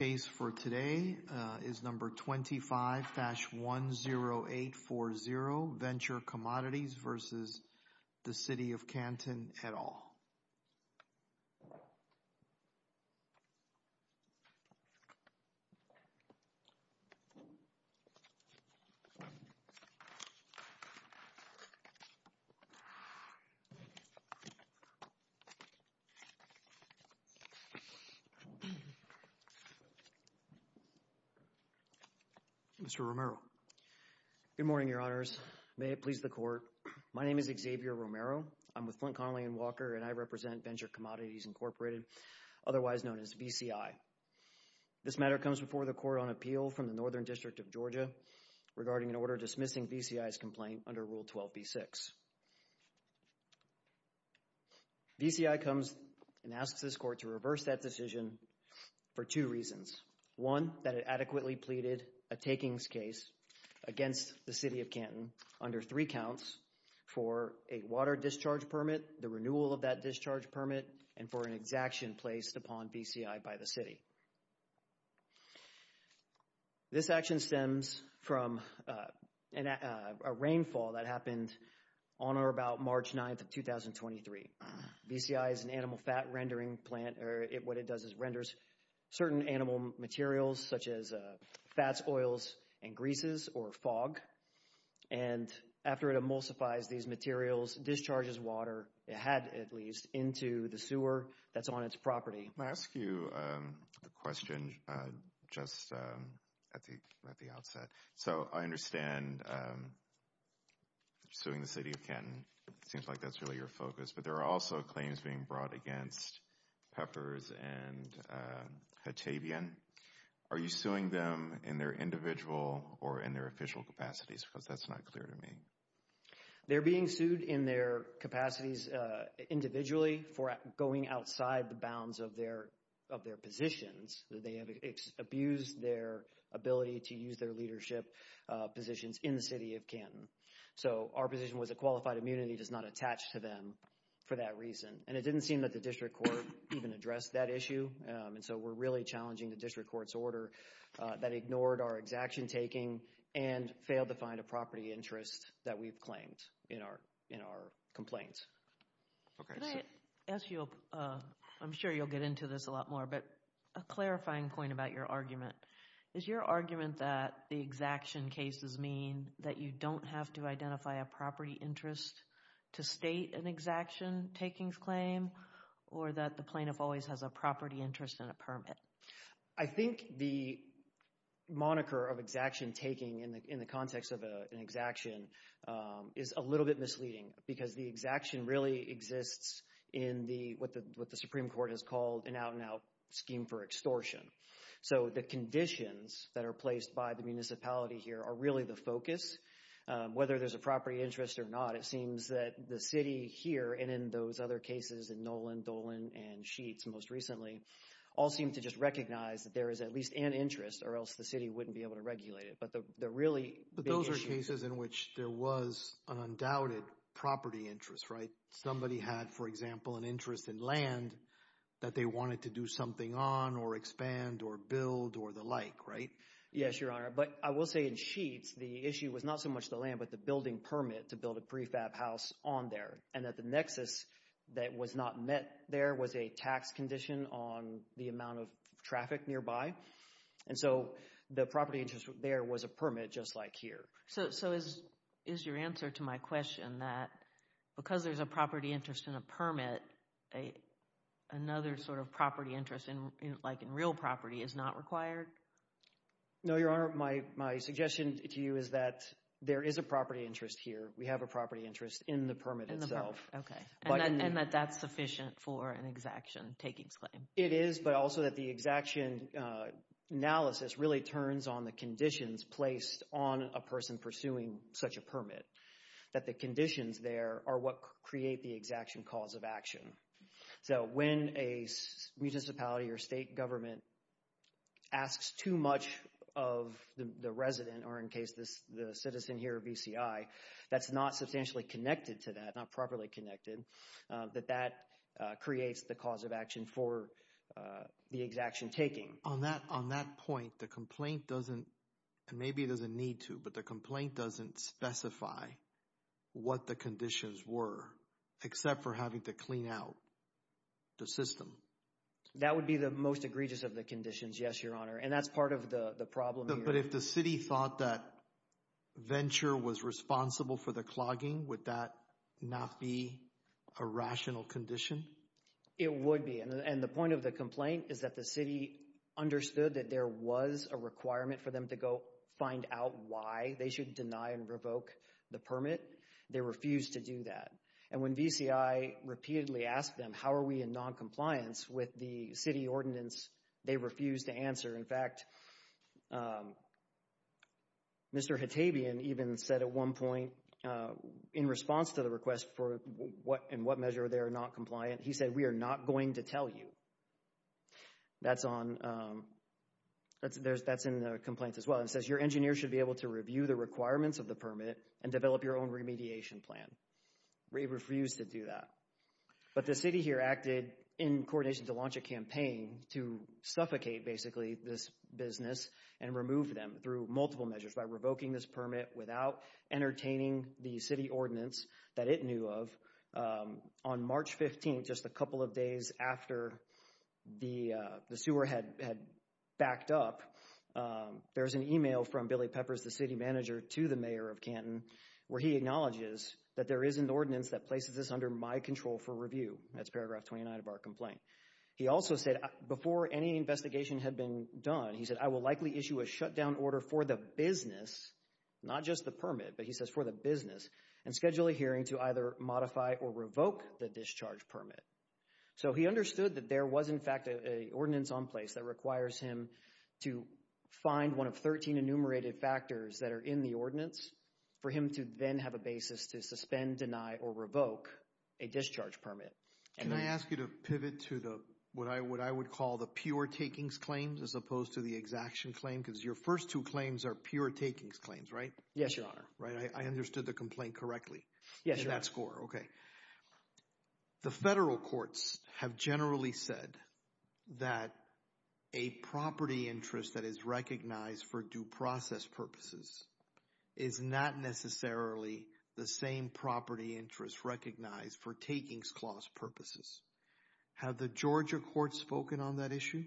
Case for today is number 25-10840, Venture Commodities v. City of Canton et al. Mr. Romero. Good morning, Your Honors. May it please the Court. My name is Xavier Romero. I'm with Flint Connelly & Walker, and I represent Venture Commodities Incorporated, otherwise known as VCI. This matter comes before the Court on appeal from the Northern District of Georgia regarding an order dismissing VCI's complaint under Rule 12b-6. VCI comes and asks this Court to reverse that decision for two reasons. One, that it adequately pleaded a takings case against the City of Canton under three counts for a water discharge permit, the renewal of that discharge permit, and for an exaction placed upon VCI by the City. This action stems from a rainfall that happened on or about March 9th of 2023. VCI is an animal fat rendering plant, or what it does is renders certain animal materials such as fats, oils, and greases, or fog. And after it emulsifies these materials, discharges water, it had at least, into the sewer that's on its property. May I ask you a question just at the outset? So I understand suing the City of Canton. It seems like that's really your focus. But there are also claims being brought against Peppers and Hatabian. Are you suing them in their individual or in their official capacities? Because that's not clear to me. They're being sued in their capacities individually for going outside the bounds of their positions. They have abused their ability to use their leadership positions in the City of Canton. So our position was that qualified immunity does not attach to them for that reason. And it didn't seem that the District Court even addressed that issue. And so we're really challenging the District Court's order that ignored our exaction taking and failed to find a property interest that we've claimed in our complaints. Can I ask you, I'm sure you'll get into this a lot more, but a clarifying point about your argument. Is your argument that the exaction cases mean that you don't have to identify a property interest to state an exaction takings claim or that the plaintiff always has a property interest and a permit? I think the moniker of exaction taking in the context of an exaction is a little bit misleading because the exaction really exists in what the Supreme Court has called an out-and-out scheme for extortion. So the conditions that are placed by the municipality here are really the focus. Whether there's a property interest or not, it seems that the City here and in those other cases, in Nolan, Dolan, and Sheets most recently, all seem to just recognize that there is at least an interest or else the City wouldn't be able to regulate it. But the really big issue... But those are cases in which there was an undoubted property interest, right? Somebody had, for example, an interest in land that they wanted to do something on or expand or build or the like, right? Yes, Your Honor. But I will say in Sheets, the issue was not so much the land but the building permit to build a prefab house on there and that the nexus that was not met there was a tax condition on the amount of traffic nearby. And so the property interest there was a permit just like here. So is your answer to my question that because there's a property interest and a permit, another sort of property interest like in real property is not required? No, Your Honor. My suggestion to you is that there is a property interest here. We have a property interest in the permit itself. Okay. And that that's sufficient for an exaction takings claim. It is, but also that the exaction analysis really turns on the conditions placed on a person pursuing such a permit. That the conditions there are what create the exaction cause of action. So when a municipality or state government asks too much of the resident or in case the citizen here, VCI, that's not substantially connected to that, not properly connected, that that creates the cause of action for the exaction taking. On that point, the complaint doesn't, and maybe it doesn't need to, but the complaint doesn't specify what the conditions were except for having to clean out the system. That would be the most egregious of the conditions, yes, Your Honor. And that's part of the problem here. But if the city thought that Venture was responsible for the clogging, would that not be a rational condition? It would be. And the point of the complaint is that the city understood that there was a requirement for them to go find out why they should deny and revoke the permit. They refused to do that. And when VCI repeatedly asked them, how are we in noncompliance with the city ordinance, they refused to answer. In fact, Mr. Hatabian even said at one point in response to the request for what and what measure they are not compliant, he said we are not going to tell you. That's on, that's in the complaint as well. It says your engineer should be able to review the requirements of the permit and develop your own remediation plan. They refused to do that. But the city here acted in coordination to launch a campaign to suffocate basically this business and remove them through multiple measures by revoking this permit without entertaining the city ordinance that it knew of. On March 15th, just a couple of days after the sewer had backed up, there was an email from Billy Peppers, the city manager, to the mayor of Canton where he acknowledges that there is an ordinance that places this under my control for review. That's paragraph 29 of our complaint. He also said before any investigation had been done, he said I will likely issue a shutdown order for the business, not just the permit, but he says for the business, and schedule a hearing to either modify or revoke the discharge permit. So he understood that there was in fact an ordinance on place that requires him to find one of 13 enumerated factors that are in the ordinance for him to then have a basis to suspend, deny, or revoke a discharge permit. Can I ask you to pivot to what I would call the pure takings claims as opposed to the exaction claim? Because your first two claims are pure takings claims, right? Yes, Your Honor. I understood the complaint correctly in that score. The federal courts have generally said that a property interest that is recognized for due process purposes is not necessarily the same property interest recognized for takings clause purposes. Have the Georgia courts spoken on that issue?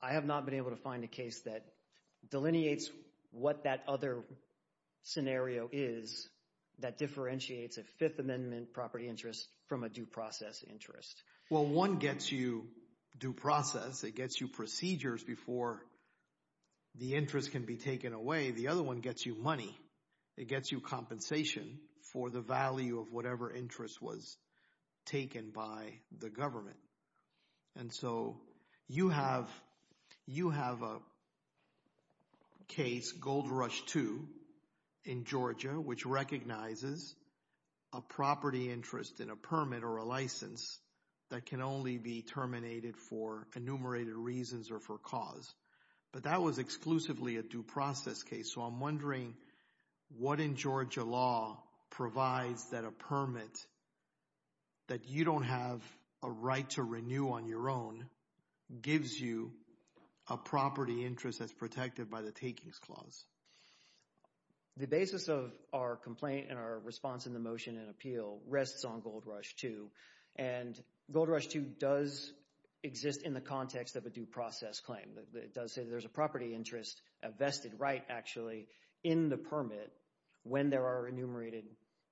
I have not been able to find a case that delineates what that other scenario is that differentiates a Fifth Amendment property interest from a due process interest. Well, one gets you due process. It gets you procedures before the interest can be taken away. The other one gets you money. It gets you compensation for the value of whatever interest was taken by the government. And so you have a case, Gold Rush 2, in Georgia, which recognizes a property interest in a permit or a license that can only be terminated for enumerated reasons or for cause. But that was exclusively a due process case. So I'm wondering what in Georgia law provides that a permit that you don't have a right to renew on your own gives you a property interest that's protected by the takings clause. The basis of our complaint and our response in the motion and appeal rests on Gold Rush 2. And Gold Rush 2 does exist in the context of a due process claim. It does say there's a property interest vested right, actually, in the permit when there are enumerated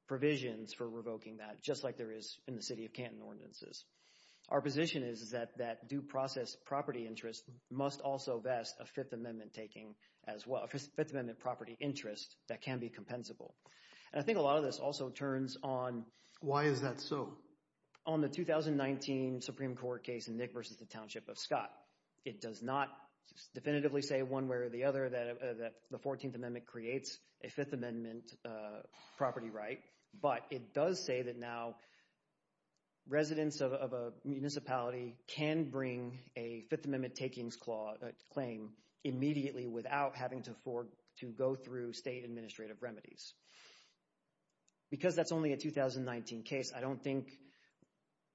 provisions for revoking that, just like there is in the City of Canton ordinances. Our position is that that due process property interest must also vest a Fifth Amendment taking as well, a Fifth Amendment property interest that can be compensable. And I think a lot of this also turns on— Why is that so? On the 2019 Supreme Court case in Nick v. The Township of Scott. It does not definitively say one way or the other that the 14th Amendment creates a Fifth Amendment property right. But it does say that now residents of a municipality can bring a Fifth Amendment takings claim immediately without having to go through state administrative remedies. Because that's only a 2019 case, I don't think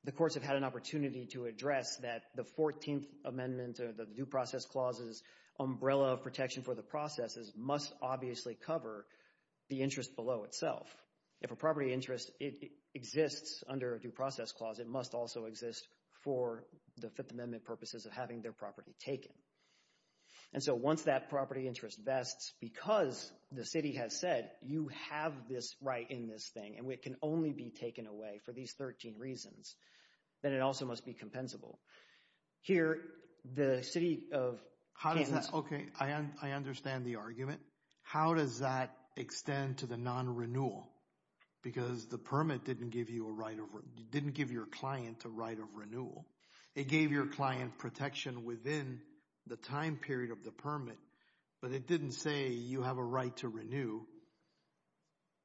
the courts have had an opportunity to address that the 14th Amendment or the Due Process Clause's umbrella of protection for the processes must obviously cover the interest below itself. If a property interest exists under a Due Process Clause, it must also exist for the Fifth Amendment purposes of having their property taken. And so once that property interest vests, because the City has said you have this right in this thing and it can only be taken away for these 13 reasons, then it also must be compensable. Here, the City of Kansas— Okay, I understand the argument. How does that extend to the non-renewal? Because the permit didn't give your client a right of renewal. It gave your client protection within the time period of the permit, but it didn't say you have a right to renew.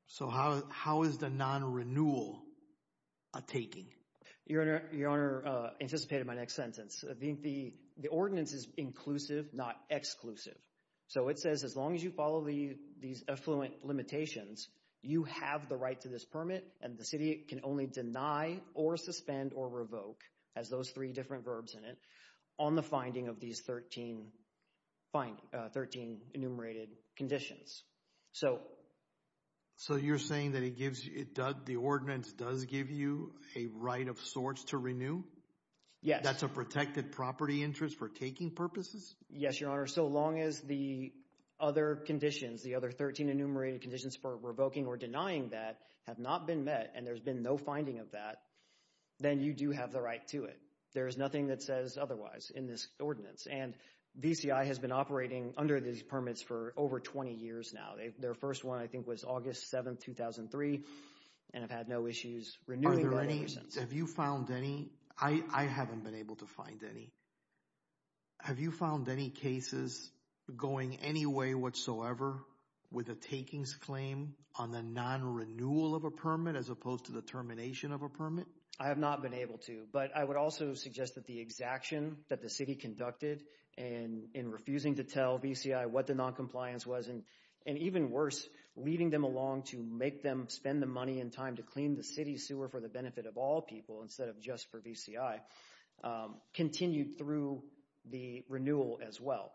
So how is the non-renewal a taking? Your Honor anticipated my next sentence. The ordinance is inclusive, not exclusive. So it says as long as you follow these affluent limitations, you have the right to this permit and the City can only deny or suspend or revoke, as those three different verbs in it, on the finding of these 13 enumerated conditions. So you're saying that the ordinance does give you a right of sorts to renew? Yes. That's a protected property interest for taking purposes? Yes, Your Honor. So long as the other conditions, the other 13 enumerated conditions for revoking or denying that have not been met and there's been no finding of that, then you do have the right to it. There is nothing that says otherwise in this ordinance. And VCI has been operating under these permits for over 20 years now. Their first one, I think, was August 7, 2003, and have had no issues renewing them ever since. Have you found any? I haven't been able to find any. Have you found any cases going any way whatsoever with a takings claim on the non-renewal of a permit as opposed to the termination of a permit? I have not been able to. But I would also suggest that the exaction that the city conducted in refusing to tell VCI what the noncompliance was, and even worse, leading them along to make them spend the money and time to clean the city sewer for the benefit of all people instead of just for VCI, continued through the renewal as well.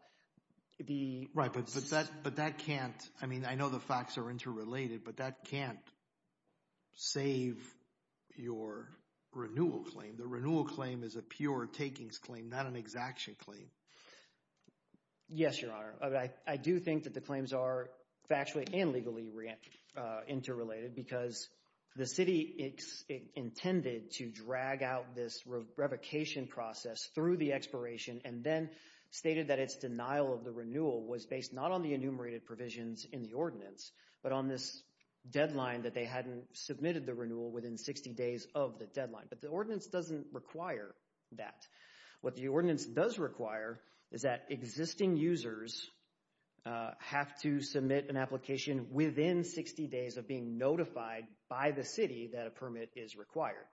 Right, but that can't, I mean, I know the facts are interrelated, but that can't save your renewal claim. The renewal claim is a pure takings claim, not an exaction claim. Yes, Your Honor. I do think that the claims are factually and legally interrelated because the city intended to drag out this revocation process through the expiration and then stated that its denial of the renewal was based not on the enumerated provisions in the ordinance but on this deadline that they hadn't submitted the renewal within 60 days of the deadline. But the ordinance doesn't require that. What the ordinance does require is that existing users have to submit an application within 60 days of being notified by the city that a permit is required.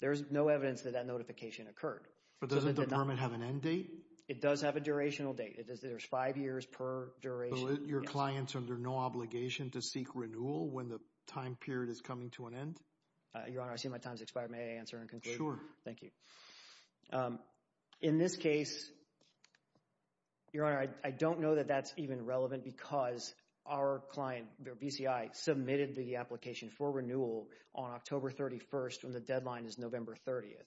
There's no evidence that that notification occurred. But doesn't the permit have an end date? It does have a durational date. There's five years per duration. So your client's under no obligation to seek renewal when the time period is coming to an end? Your Honor, I see my time has expired. May I answer and conclude? Sure. Thank you. In this case, Your Honor, I don't know that that's even relevant because our client, BCI, submitted the application for renewal on October 31st when the deadline is November 30th.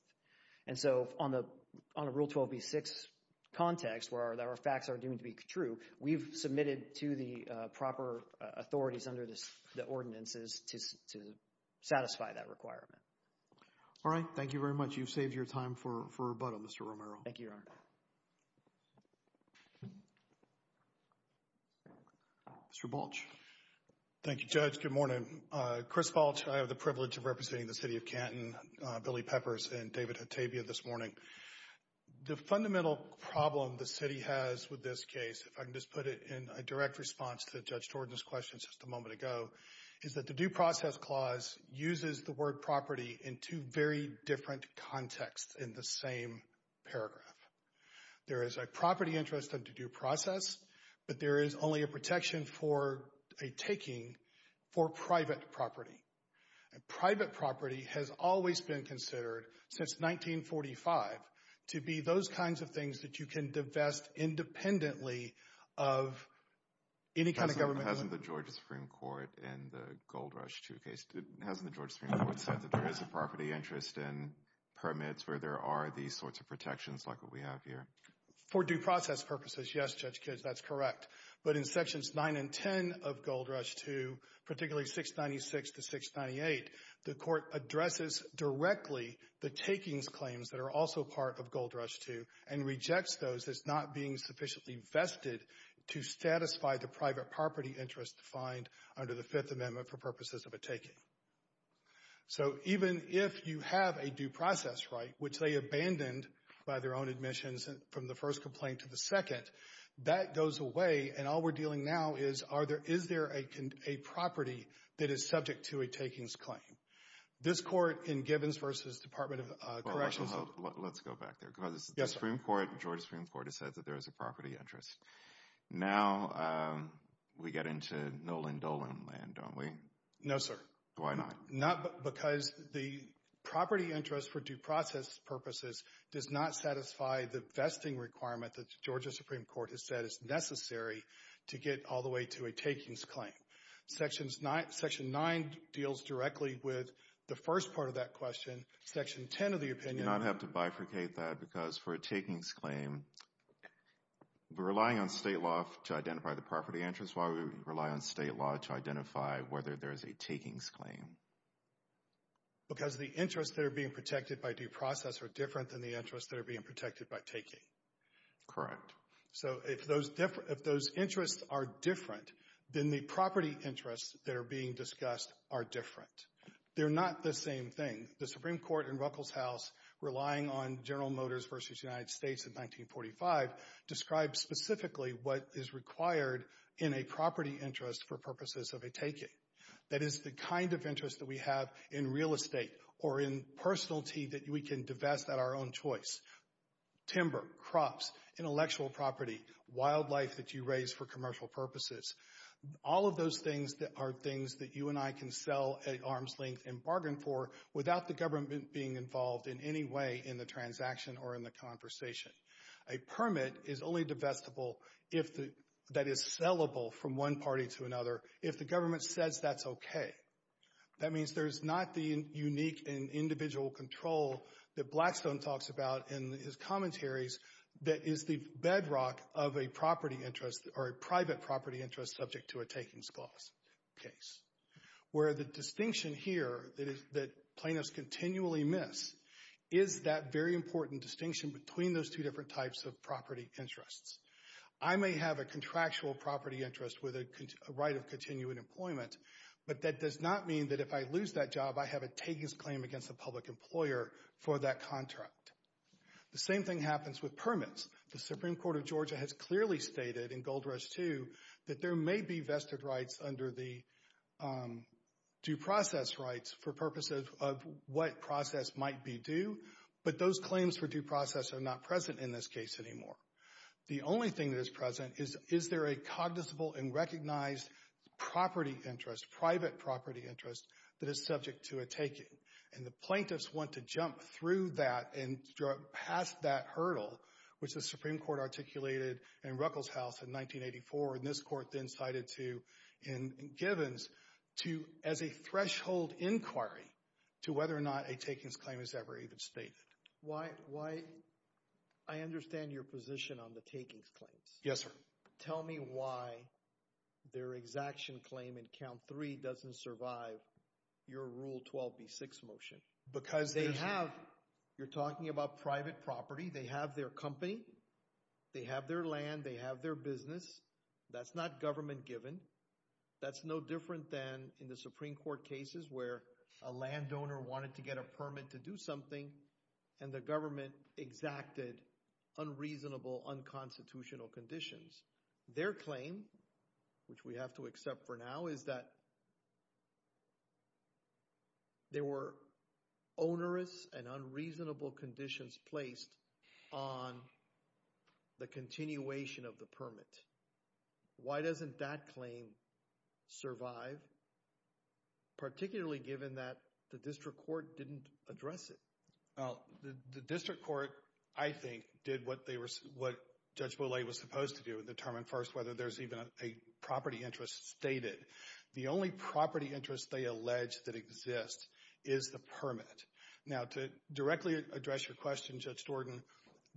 And so on a Rule 12b-6 context where our facts are deemed to be true, we've submitted to the proper authorities under the ordinances to satisfy that requirement. All right. Thank you very much. You've saved your time for rebuttal, Mr. Romero. Thank you, Your Honor. Mr. Balch. Thank you, Judge. Good morning. Chris Balch. I have the privilege of representing the City of Canton, Billy Peppers, and David Hatabia this morning. The fundamental problem the City has with this case, if I can just put it in a direct response to Judge Jordan's question just a moment ago, is that the Due Process Clause uses the word property in two very different contexts in the same paragraph. There is a property interest under Due Process, but there is only a protection for a taking for private property. And private property has always been considered, since 1945, to be those kinds of things that you can divest independently of any kind of government. Hasn't the Georgia Supreme Court in the Gold Rush II case, hasn't the Georgia Supreme Court said that there is a property interest in permits where there are these sorts of protections like what we have here? For due process purposes, yes, Judge Kidd, that's correct. But in Sections 9 and 10 of Gold Rush II, particularly 696 to 698, the Court addresses directly the takings claims that are also part of Gold Rush II and rejects those as not being sufficiently vested to satisfy the private property interest defined under the Fifth Amendment for purposes of a taking. So even if you have a due process right, which they abandoned by their own admissions from the first complaint to the second, that goes away and all we're dealing now is, is there a property that is subject to a takings claim? This Court in Gibbons v. Department of Corrections Let's go back there because the Supreme Court, Georgia Supreme Court, has said that there is a property interest. Now we get into Nolan Dolan land, don't we? No, sir. Why not? Not because the property interest for due process purposes does not satisfy the vesting requirement that Georgia Supreme Court has said is necessary to get all the way to a takings claim. Section 9 deals directly with the first part of that question. Section 10 of the opinion You do not have to bifurcate that because for a takings claim, we're relying on state law to identify the property interest while we rely on state law to identify whether there is a takings claim. Because the interests that are being protected by due process are different than the interests that are being protected by taking. Correct. So if those interests are different, then the property interests that are being discussed are different. They're not the same thing. The Supreme Court in Ruckelshaus, relying on General Motors v. United States in 1945, describes specifically what is required in a property interest for purposes of a taking. That is the kind of interest that we have in real estate or in personality that we can divest at our own choice. Timber, crops, intellectual property, wildlife that you raise for commercial purposes. All of those things are things that you and I can sell at arm's length and bargain for without the government being involved in any way in the transaction or in the conversation. A permit is only divestible if that is sellable from one party to another. If the government says that's okay. That means there's not the unique and individual control that Blackstone talks about in his commentaries that is the bedrock of a property interest or a private property interest subject to a takings clause case. Where the distinction here that plaintiffs continually miss is that very important distinction between those two different types of property interests. I may have a contractual property interest with a right of continuing employment, but that does not mean that if I lose that job, I have a takings claim against the public employer for that contract. The same thing happens with permits. The Supreme Court of Georgia has clearly stated in Gold Rush II that there may be vested rights under the due process rights for purposes of what process might be due, but those claims for due process are not present in this case anymore. The only thing that is present is, is there a cognizable and recognized property interest, private property interest that is subject to a taking? And the plaintiffs want to jump through that and pass that hurdle, which the Supreme Court articulated in Ruckelshaus in 1984 and this court then cited to in Givens as a threshold inquiry to whether or not a takings claim is ever even stated. Why, I understand your position on the takings claims. Yes, sir. Tell me why their exaction claim in count three doesn't survive your Rule 12b6 motion. Because they have, you're talking about private property. They have their company. They have their land. They have their business. That's not government given. That's no different than in the Supreme Court cases where a landowner wanted to get a permit to do something and the government exacted unreasonable, unconstitutional conditions. Their claim, which we have to accept for now, is that there were onerous and unreasonable conditions placed on the continuation of the permit. Why doesn't that claim survive? Particularly given that the district court didn't address it. The district court, I think, did what Judge Boley was supposed to do and determine first whether there's even a property interest stated. The only property interest they allege that exists is the permit. Now, to directly address your question, Judge Jordan,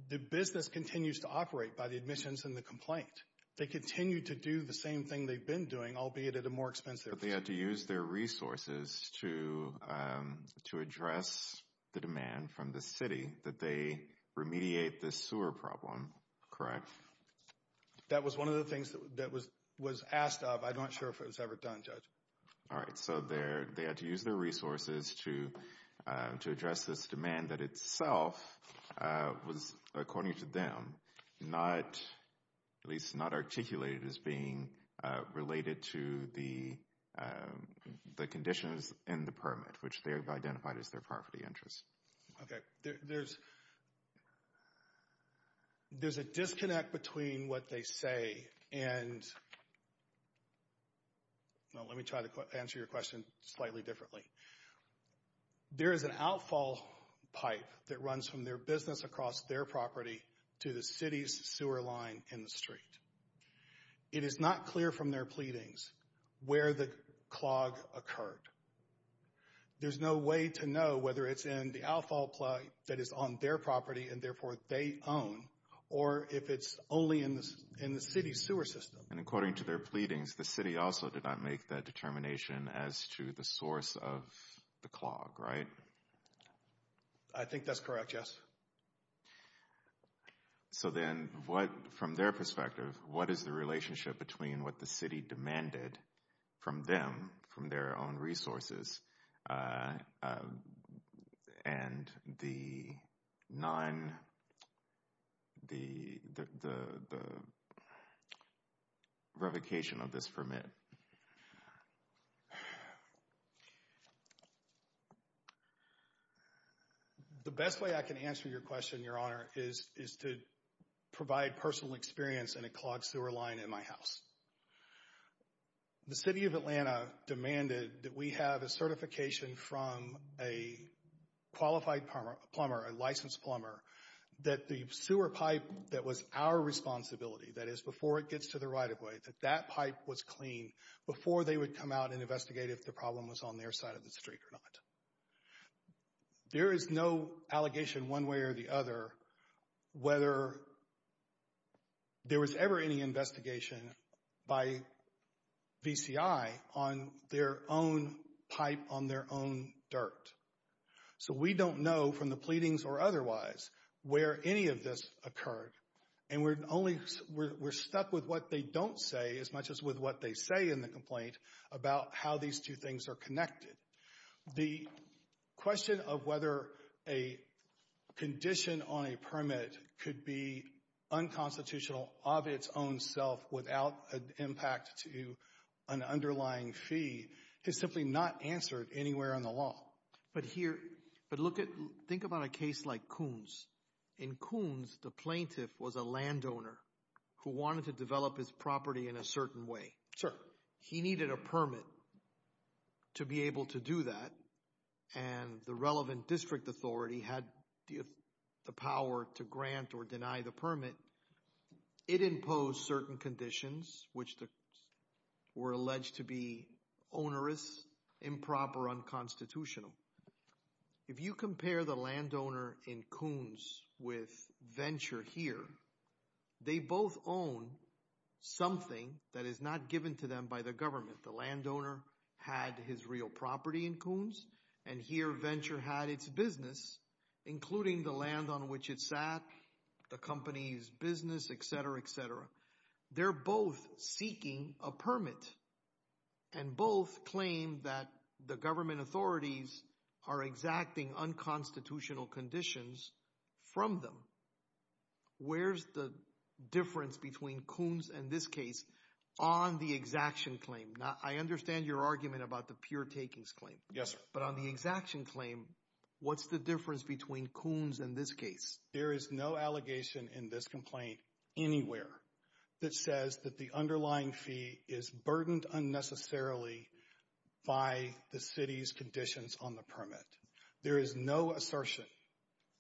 the business continues to operate by the admissions and the complaint. They continue to do the same thing they've been doing, albeit at a more expensive rate. But they had to use their resources to address the demand from the city that they remediate this sewer problem, correct? That was one of the things that was asked of. I'm not sure if it was ever done, Judge. All right. So they had to use their resources to address this demand that itself was, according to them, at least not articulated as being related to the conditions in the permit, which they have identified as their property interest. Okay. There's a disconnect between what they say and – well, let me try to answer your question slightly differently. There is an outfall pipe that runs from their business across their property to the city's sewer line in the street. It is not clear from their pleadings where the clog occurred. There's no way to know whether it's in the outfall pipe that is on their property and, therefore, they own, or if it's only in the city's sewer system. And according to their pleadings, the city also did not make that determination as to the source of the clog, right? I think that's correct, yes. So then from their perspective, what is the relationship between what the city demanded from them, from their own resources, and the revocation of this permit? The best way I can answer your question, Your Honor, is to provide personal experience in a clogged sewer line in my house. The city of Atlanta demanded that we have a certification from a qualified plumber, a licensed plumber, that the sewer pipe that was our responsibility, that is before it gets to the right-of-way, that that pipe was clean before they would come out and investigate if the problem was on their side of the street or not. There is no allegation one way or the other whether there was ever any investigation by VCI on their own pipe on their own dirt. So we don't know from the pleadings or otherwise where any of this occurred. And we're stuck with what they don't say as much as with what they say in the complaint about how these two things are connected. The question of whether a condition on a permit could be unconstitutional of its own self without an impact to an underlying fee is simply not answered anywhere in the law. But here, but look at, think about a case like Coons. In Coons, the plaintiff was a landowner who wanted to develop his property in a certain way. Sir. He needed a permit to be able to do that and the relevant district authority had the power to grant or deny the permit. It imposed certain conditions which were alleged to be onerous, improper, unconstitutional. If you compare the landowner in Coons with Venture here, they both own something that is not given to them by the government. The landowner had his real property in Coons and here Venture had its business, including the land on which it sat, the company's business, et cetera, et cetera. They're both seeking a permit and both claim that the government authorities are exacting unconstitutional conditions from them. Where's the difference between Coons and this case on the exaction claim? I understand your argument about the pure takings claim. Yes, sir. But on the exaction claim, what's the difference between Coons and this case? There is no allegation in this complaint anywhere that says that the underlying fee is burdened unnecessarily by the city's conditions on the permit. There is no assertion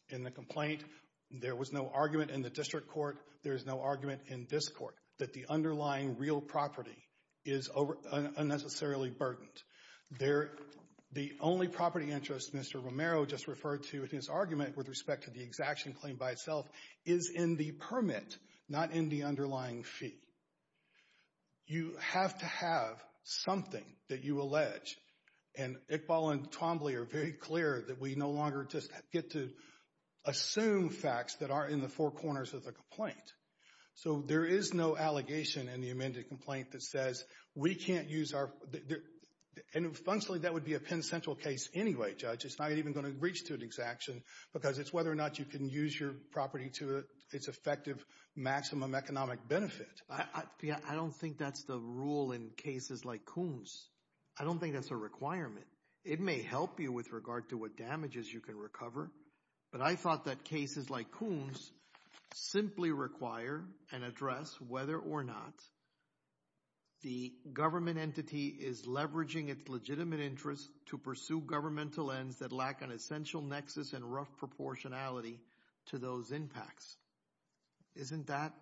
in the complaint and there was no argument in the district court, there is no argument in this court that the underlying real property is unnecessarily burdened. The only property interest Mr. Romero just referred to in his argument with respect to the exaction claim by itself is in the permit, not in the underlying fee. You have to have something that you allege and Iqbal and Twombly are very clear that we no longer just get to assume facts that are in the four corners of the complaint. So there is no allegation in the amended complaint that says we can't use our... And functionally that would be a Penn Central case anyway, Judge. It's not even going to reach to an exaction because it's whether or not you can use your property to its effective maximum economic benefit. I don't think that's the rule in cases like Coons. I don't think that's a requirement. It may help you with regard to what damages you can recover, but I thought that cases like Coons simply require and address whether or not the government entity is leveraging its legitimate interest to pursue governmental ends that lack an essential nexus and rough proportionality to those impacts. Isn't that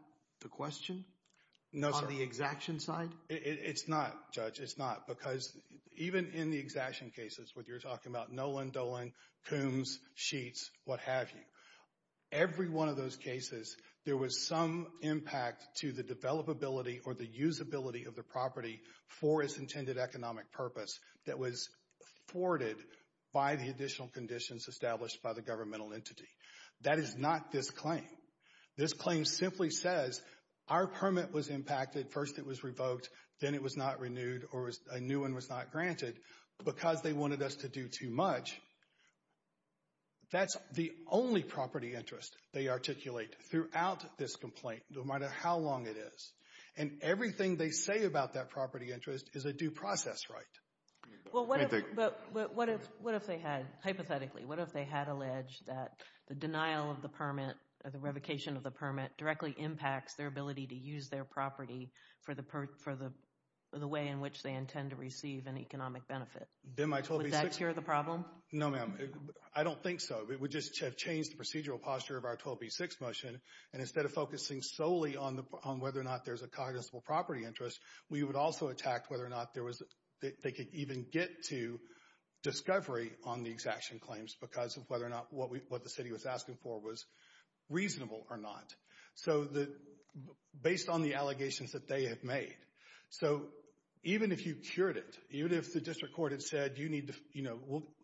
the question on the exaction side? No, sir. It's not, Judge. It's not. Because even in the exaction cases where you're talking about Nolan, Dolan, Coons, Sheets, what have you, every one of those cases there was some impact to the developability or the usability of the property for its intended economic purpose that was thwarted by the additional conditions established by the governmental entity. That is not this claim. This claim simply says our permit was impacted. First it was revoked. Then it was not renewed or a new one was not granted. Because they wanted us to do too much, that's the only property interest they articulate throughout this complaint, no matter how long it is. And everything they say about that property interest is a due process right. Well, what if they had, hypothetically, what if they had alleged that the denial of the permit or the revocation of the permit directly impacts their ability to use their property for the way in which they intend to receive an economic benefit? Would that cure the problem? No, ma'am. I don't think so. It would just have changed the procedural posture of our 12B6 motion. And instead of focusing solely on whether or not there's a cognizable property interest, we would also attack whether or not they could even get to discovery on the exaction claims because of whether or not what the city was asking for was reasonable or not. So, based on the allegations that they have made. So, even if you cured it, even if the district court had said,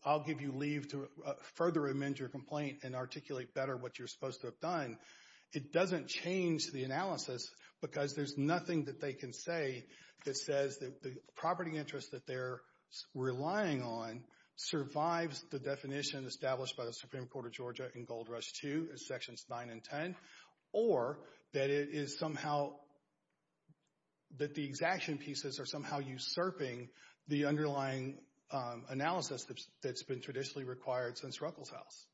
I'll give you leave to further amend your complaint and articulate better what you're supposed to have done, it doesn't change the analysis because there's nothing that they can say that says that the property interest that they're relying on survives the definition established by the Supreme Court of Georgia in Gold Rush II in Sections 9 and 10, or that it is somehow, that the exaction pieces are somehow usurping the underlying analysis that's been traditionally required since Ruckelshaus.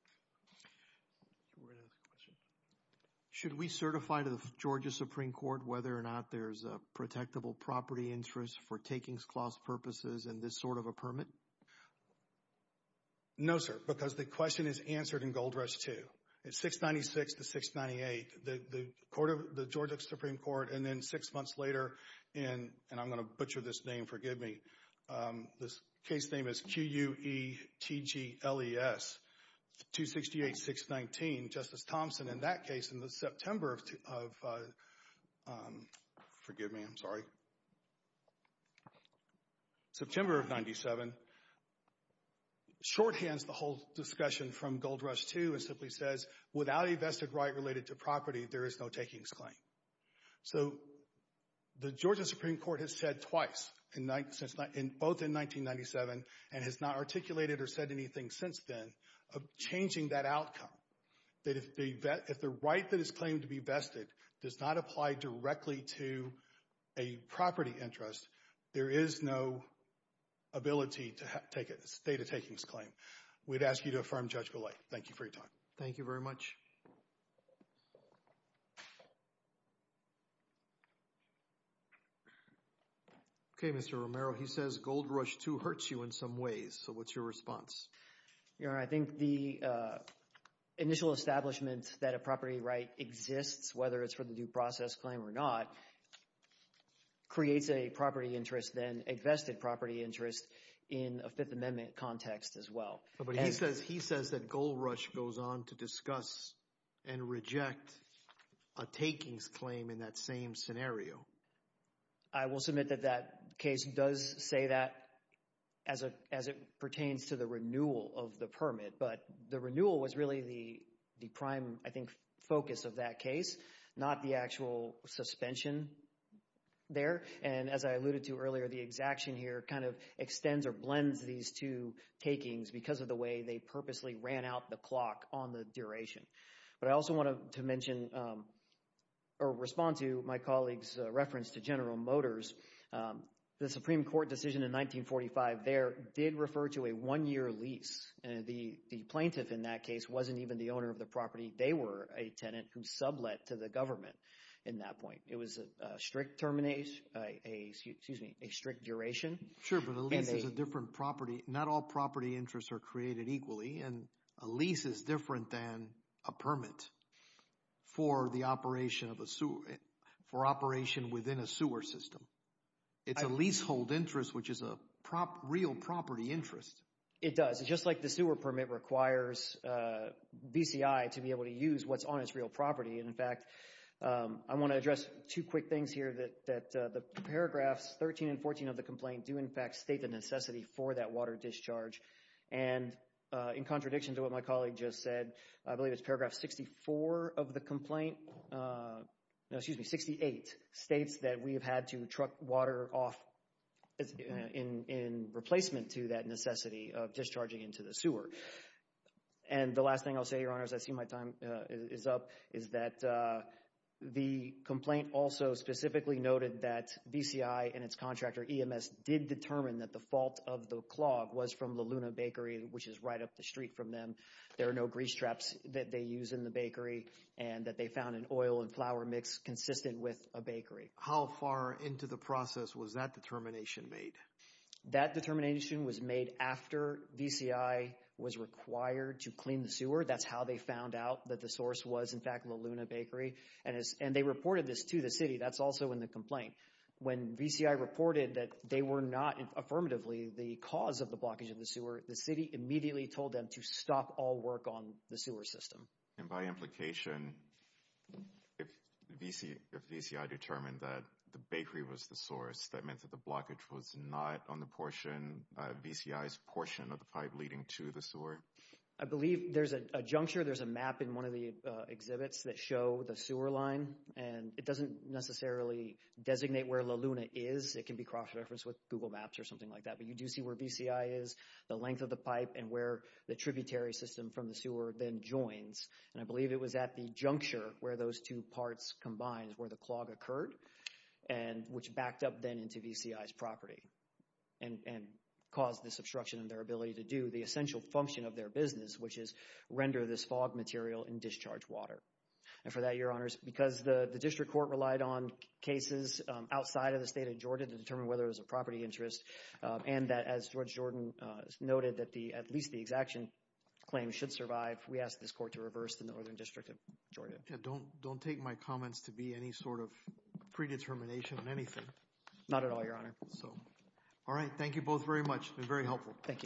Should we certify to the Georgia Supreme Court whether or not there's a protectable property interest for takings clause purposes and this sort of a permit? No, sir, because the question is answered in Gold Rush II. It's 696 to 698. The Georgia Supreme Court, and then six months later, and I'm going to butcher this name, forgive me, this case name is Q-U-E-T-G-L-E-S, 268-619. Justice Thompson, in that case, in September of... Forgive me, I'm sorry. September of 97, shorthands the whole discussion from Gold Rush II and simply says, without a vested right related to property, there is no takings claim. So the Georgia Supreme Court has said twice, both in 1997, and has not articulated or said anything since then, of changing that outcome. That if the right that is claimed to be vested does not apply directly to a property interest, there is no ability to take a state of takings claim. We'd ask you to affirm, Judge Golay. Thank you for your time. Thank you very much. Okay, Mr. Romero, he says Gold Rush II hurts you in some ways. So what's your response? I think the initial establishment that a property right exists, whether it's for the due process claim or not, creates a property interest, then a vested property interest in a Fifth Amendment context as well. But he says that Gold Rush goes on to discuss and reject a takings claim in that same scenario. I will submit that that case does say that as it pertains to the renewal of the permit, but the renewal was really the prime, I think, focus of that case, not the actual suspension there. And as I alluded to earlier, the exaction here kind of extends or blends these two takings because of the way they purposely ran out the clock on the duration. But I also wanted to mention or respond to my colleague's reference to General Motors. The Supreme Court decision in 1945 there did refer to a one-year lease. The plaintiff in that case wasn't even the owner of the property. They were a tenant who sublet to the government in that point. It was a strict termination, excuse me, a strict duration. Sure, but a lease is a different property. Not all property interests are created equally, and a lease is different than a permit for the operation of a sewer, for operation within a sewer system. It's a leasehold interest, which is a real property interest. It does. Just like the sewer permit requires BCI to be able to use what's on its real property. And, in fact, I want to address two quick things here that the paragraphs 13 and 14 of the complaint do in fact state the necessity for that water discharge. And in contradiction to what my colleague just said, I believe it's paragraph 64 of the complaint, no, excuse me, 68, states that we have had to truck water off in replacement to that necessity of discharging into the sewer. And the last thing I'll say, Your Honors, I see my time is up, is that the complaint also specifically noted that BCI and its contractor EMS did determine that the fault of the clog was from the Luna Bakery, which is right up the street from them. There are no grease traps that they use in the bakery, and that they found an oil and flour mix consistent with a bakery. How far into the process was that determination made? That determination was made after BCI was required to clean the sewer. That's how they found out that the source was, in fact, the Luna Bakery. And they reported this to the city. That's also in the complaint. When BCI reported that they were not, affirmatively, the cause of the blockage of the sewer, the city immediately told them to stop all work on the sewer system. And by implication, if BCI determined that the bakery was the source, that meant that the blockage was not on the portion, BCI's portion of the pipe leading to the sewer? I believe there's a juncture. There's a map in one of the exhibits that show the sewer line, and it doesn't necessarily designate where La Luna is. It can be cross-referenced with Google Maps or something like that. But you do see where BCI is, the length of the pipe, and where the tributary system from the sewer then joins. And I believe it was at the juncture where those two parts combined, where the clog occurred, which backed up then into BCI's property and caused this obstruction in their ability to do the essential function of their business, which is render this fog material in discharge water. And for that, Your Honors, because the district court relied on cases outside of the state of Georgia to determine whether it was a property interest, and that, as George Jordan noted, that at least the exaction claim should survive, we asked this court to reverse the Northern District of Georgia. Yeah, don't take my comments to be any sort of predetermination on anything. Not at all, Your Honor. All right, thank you both very much. It's been very helpful. Thank you.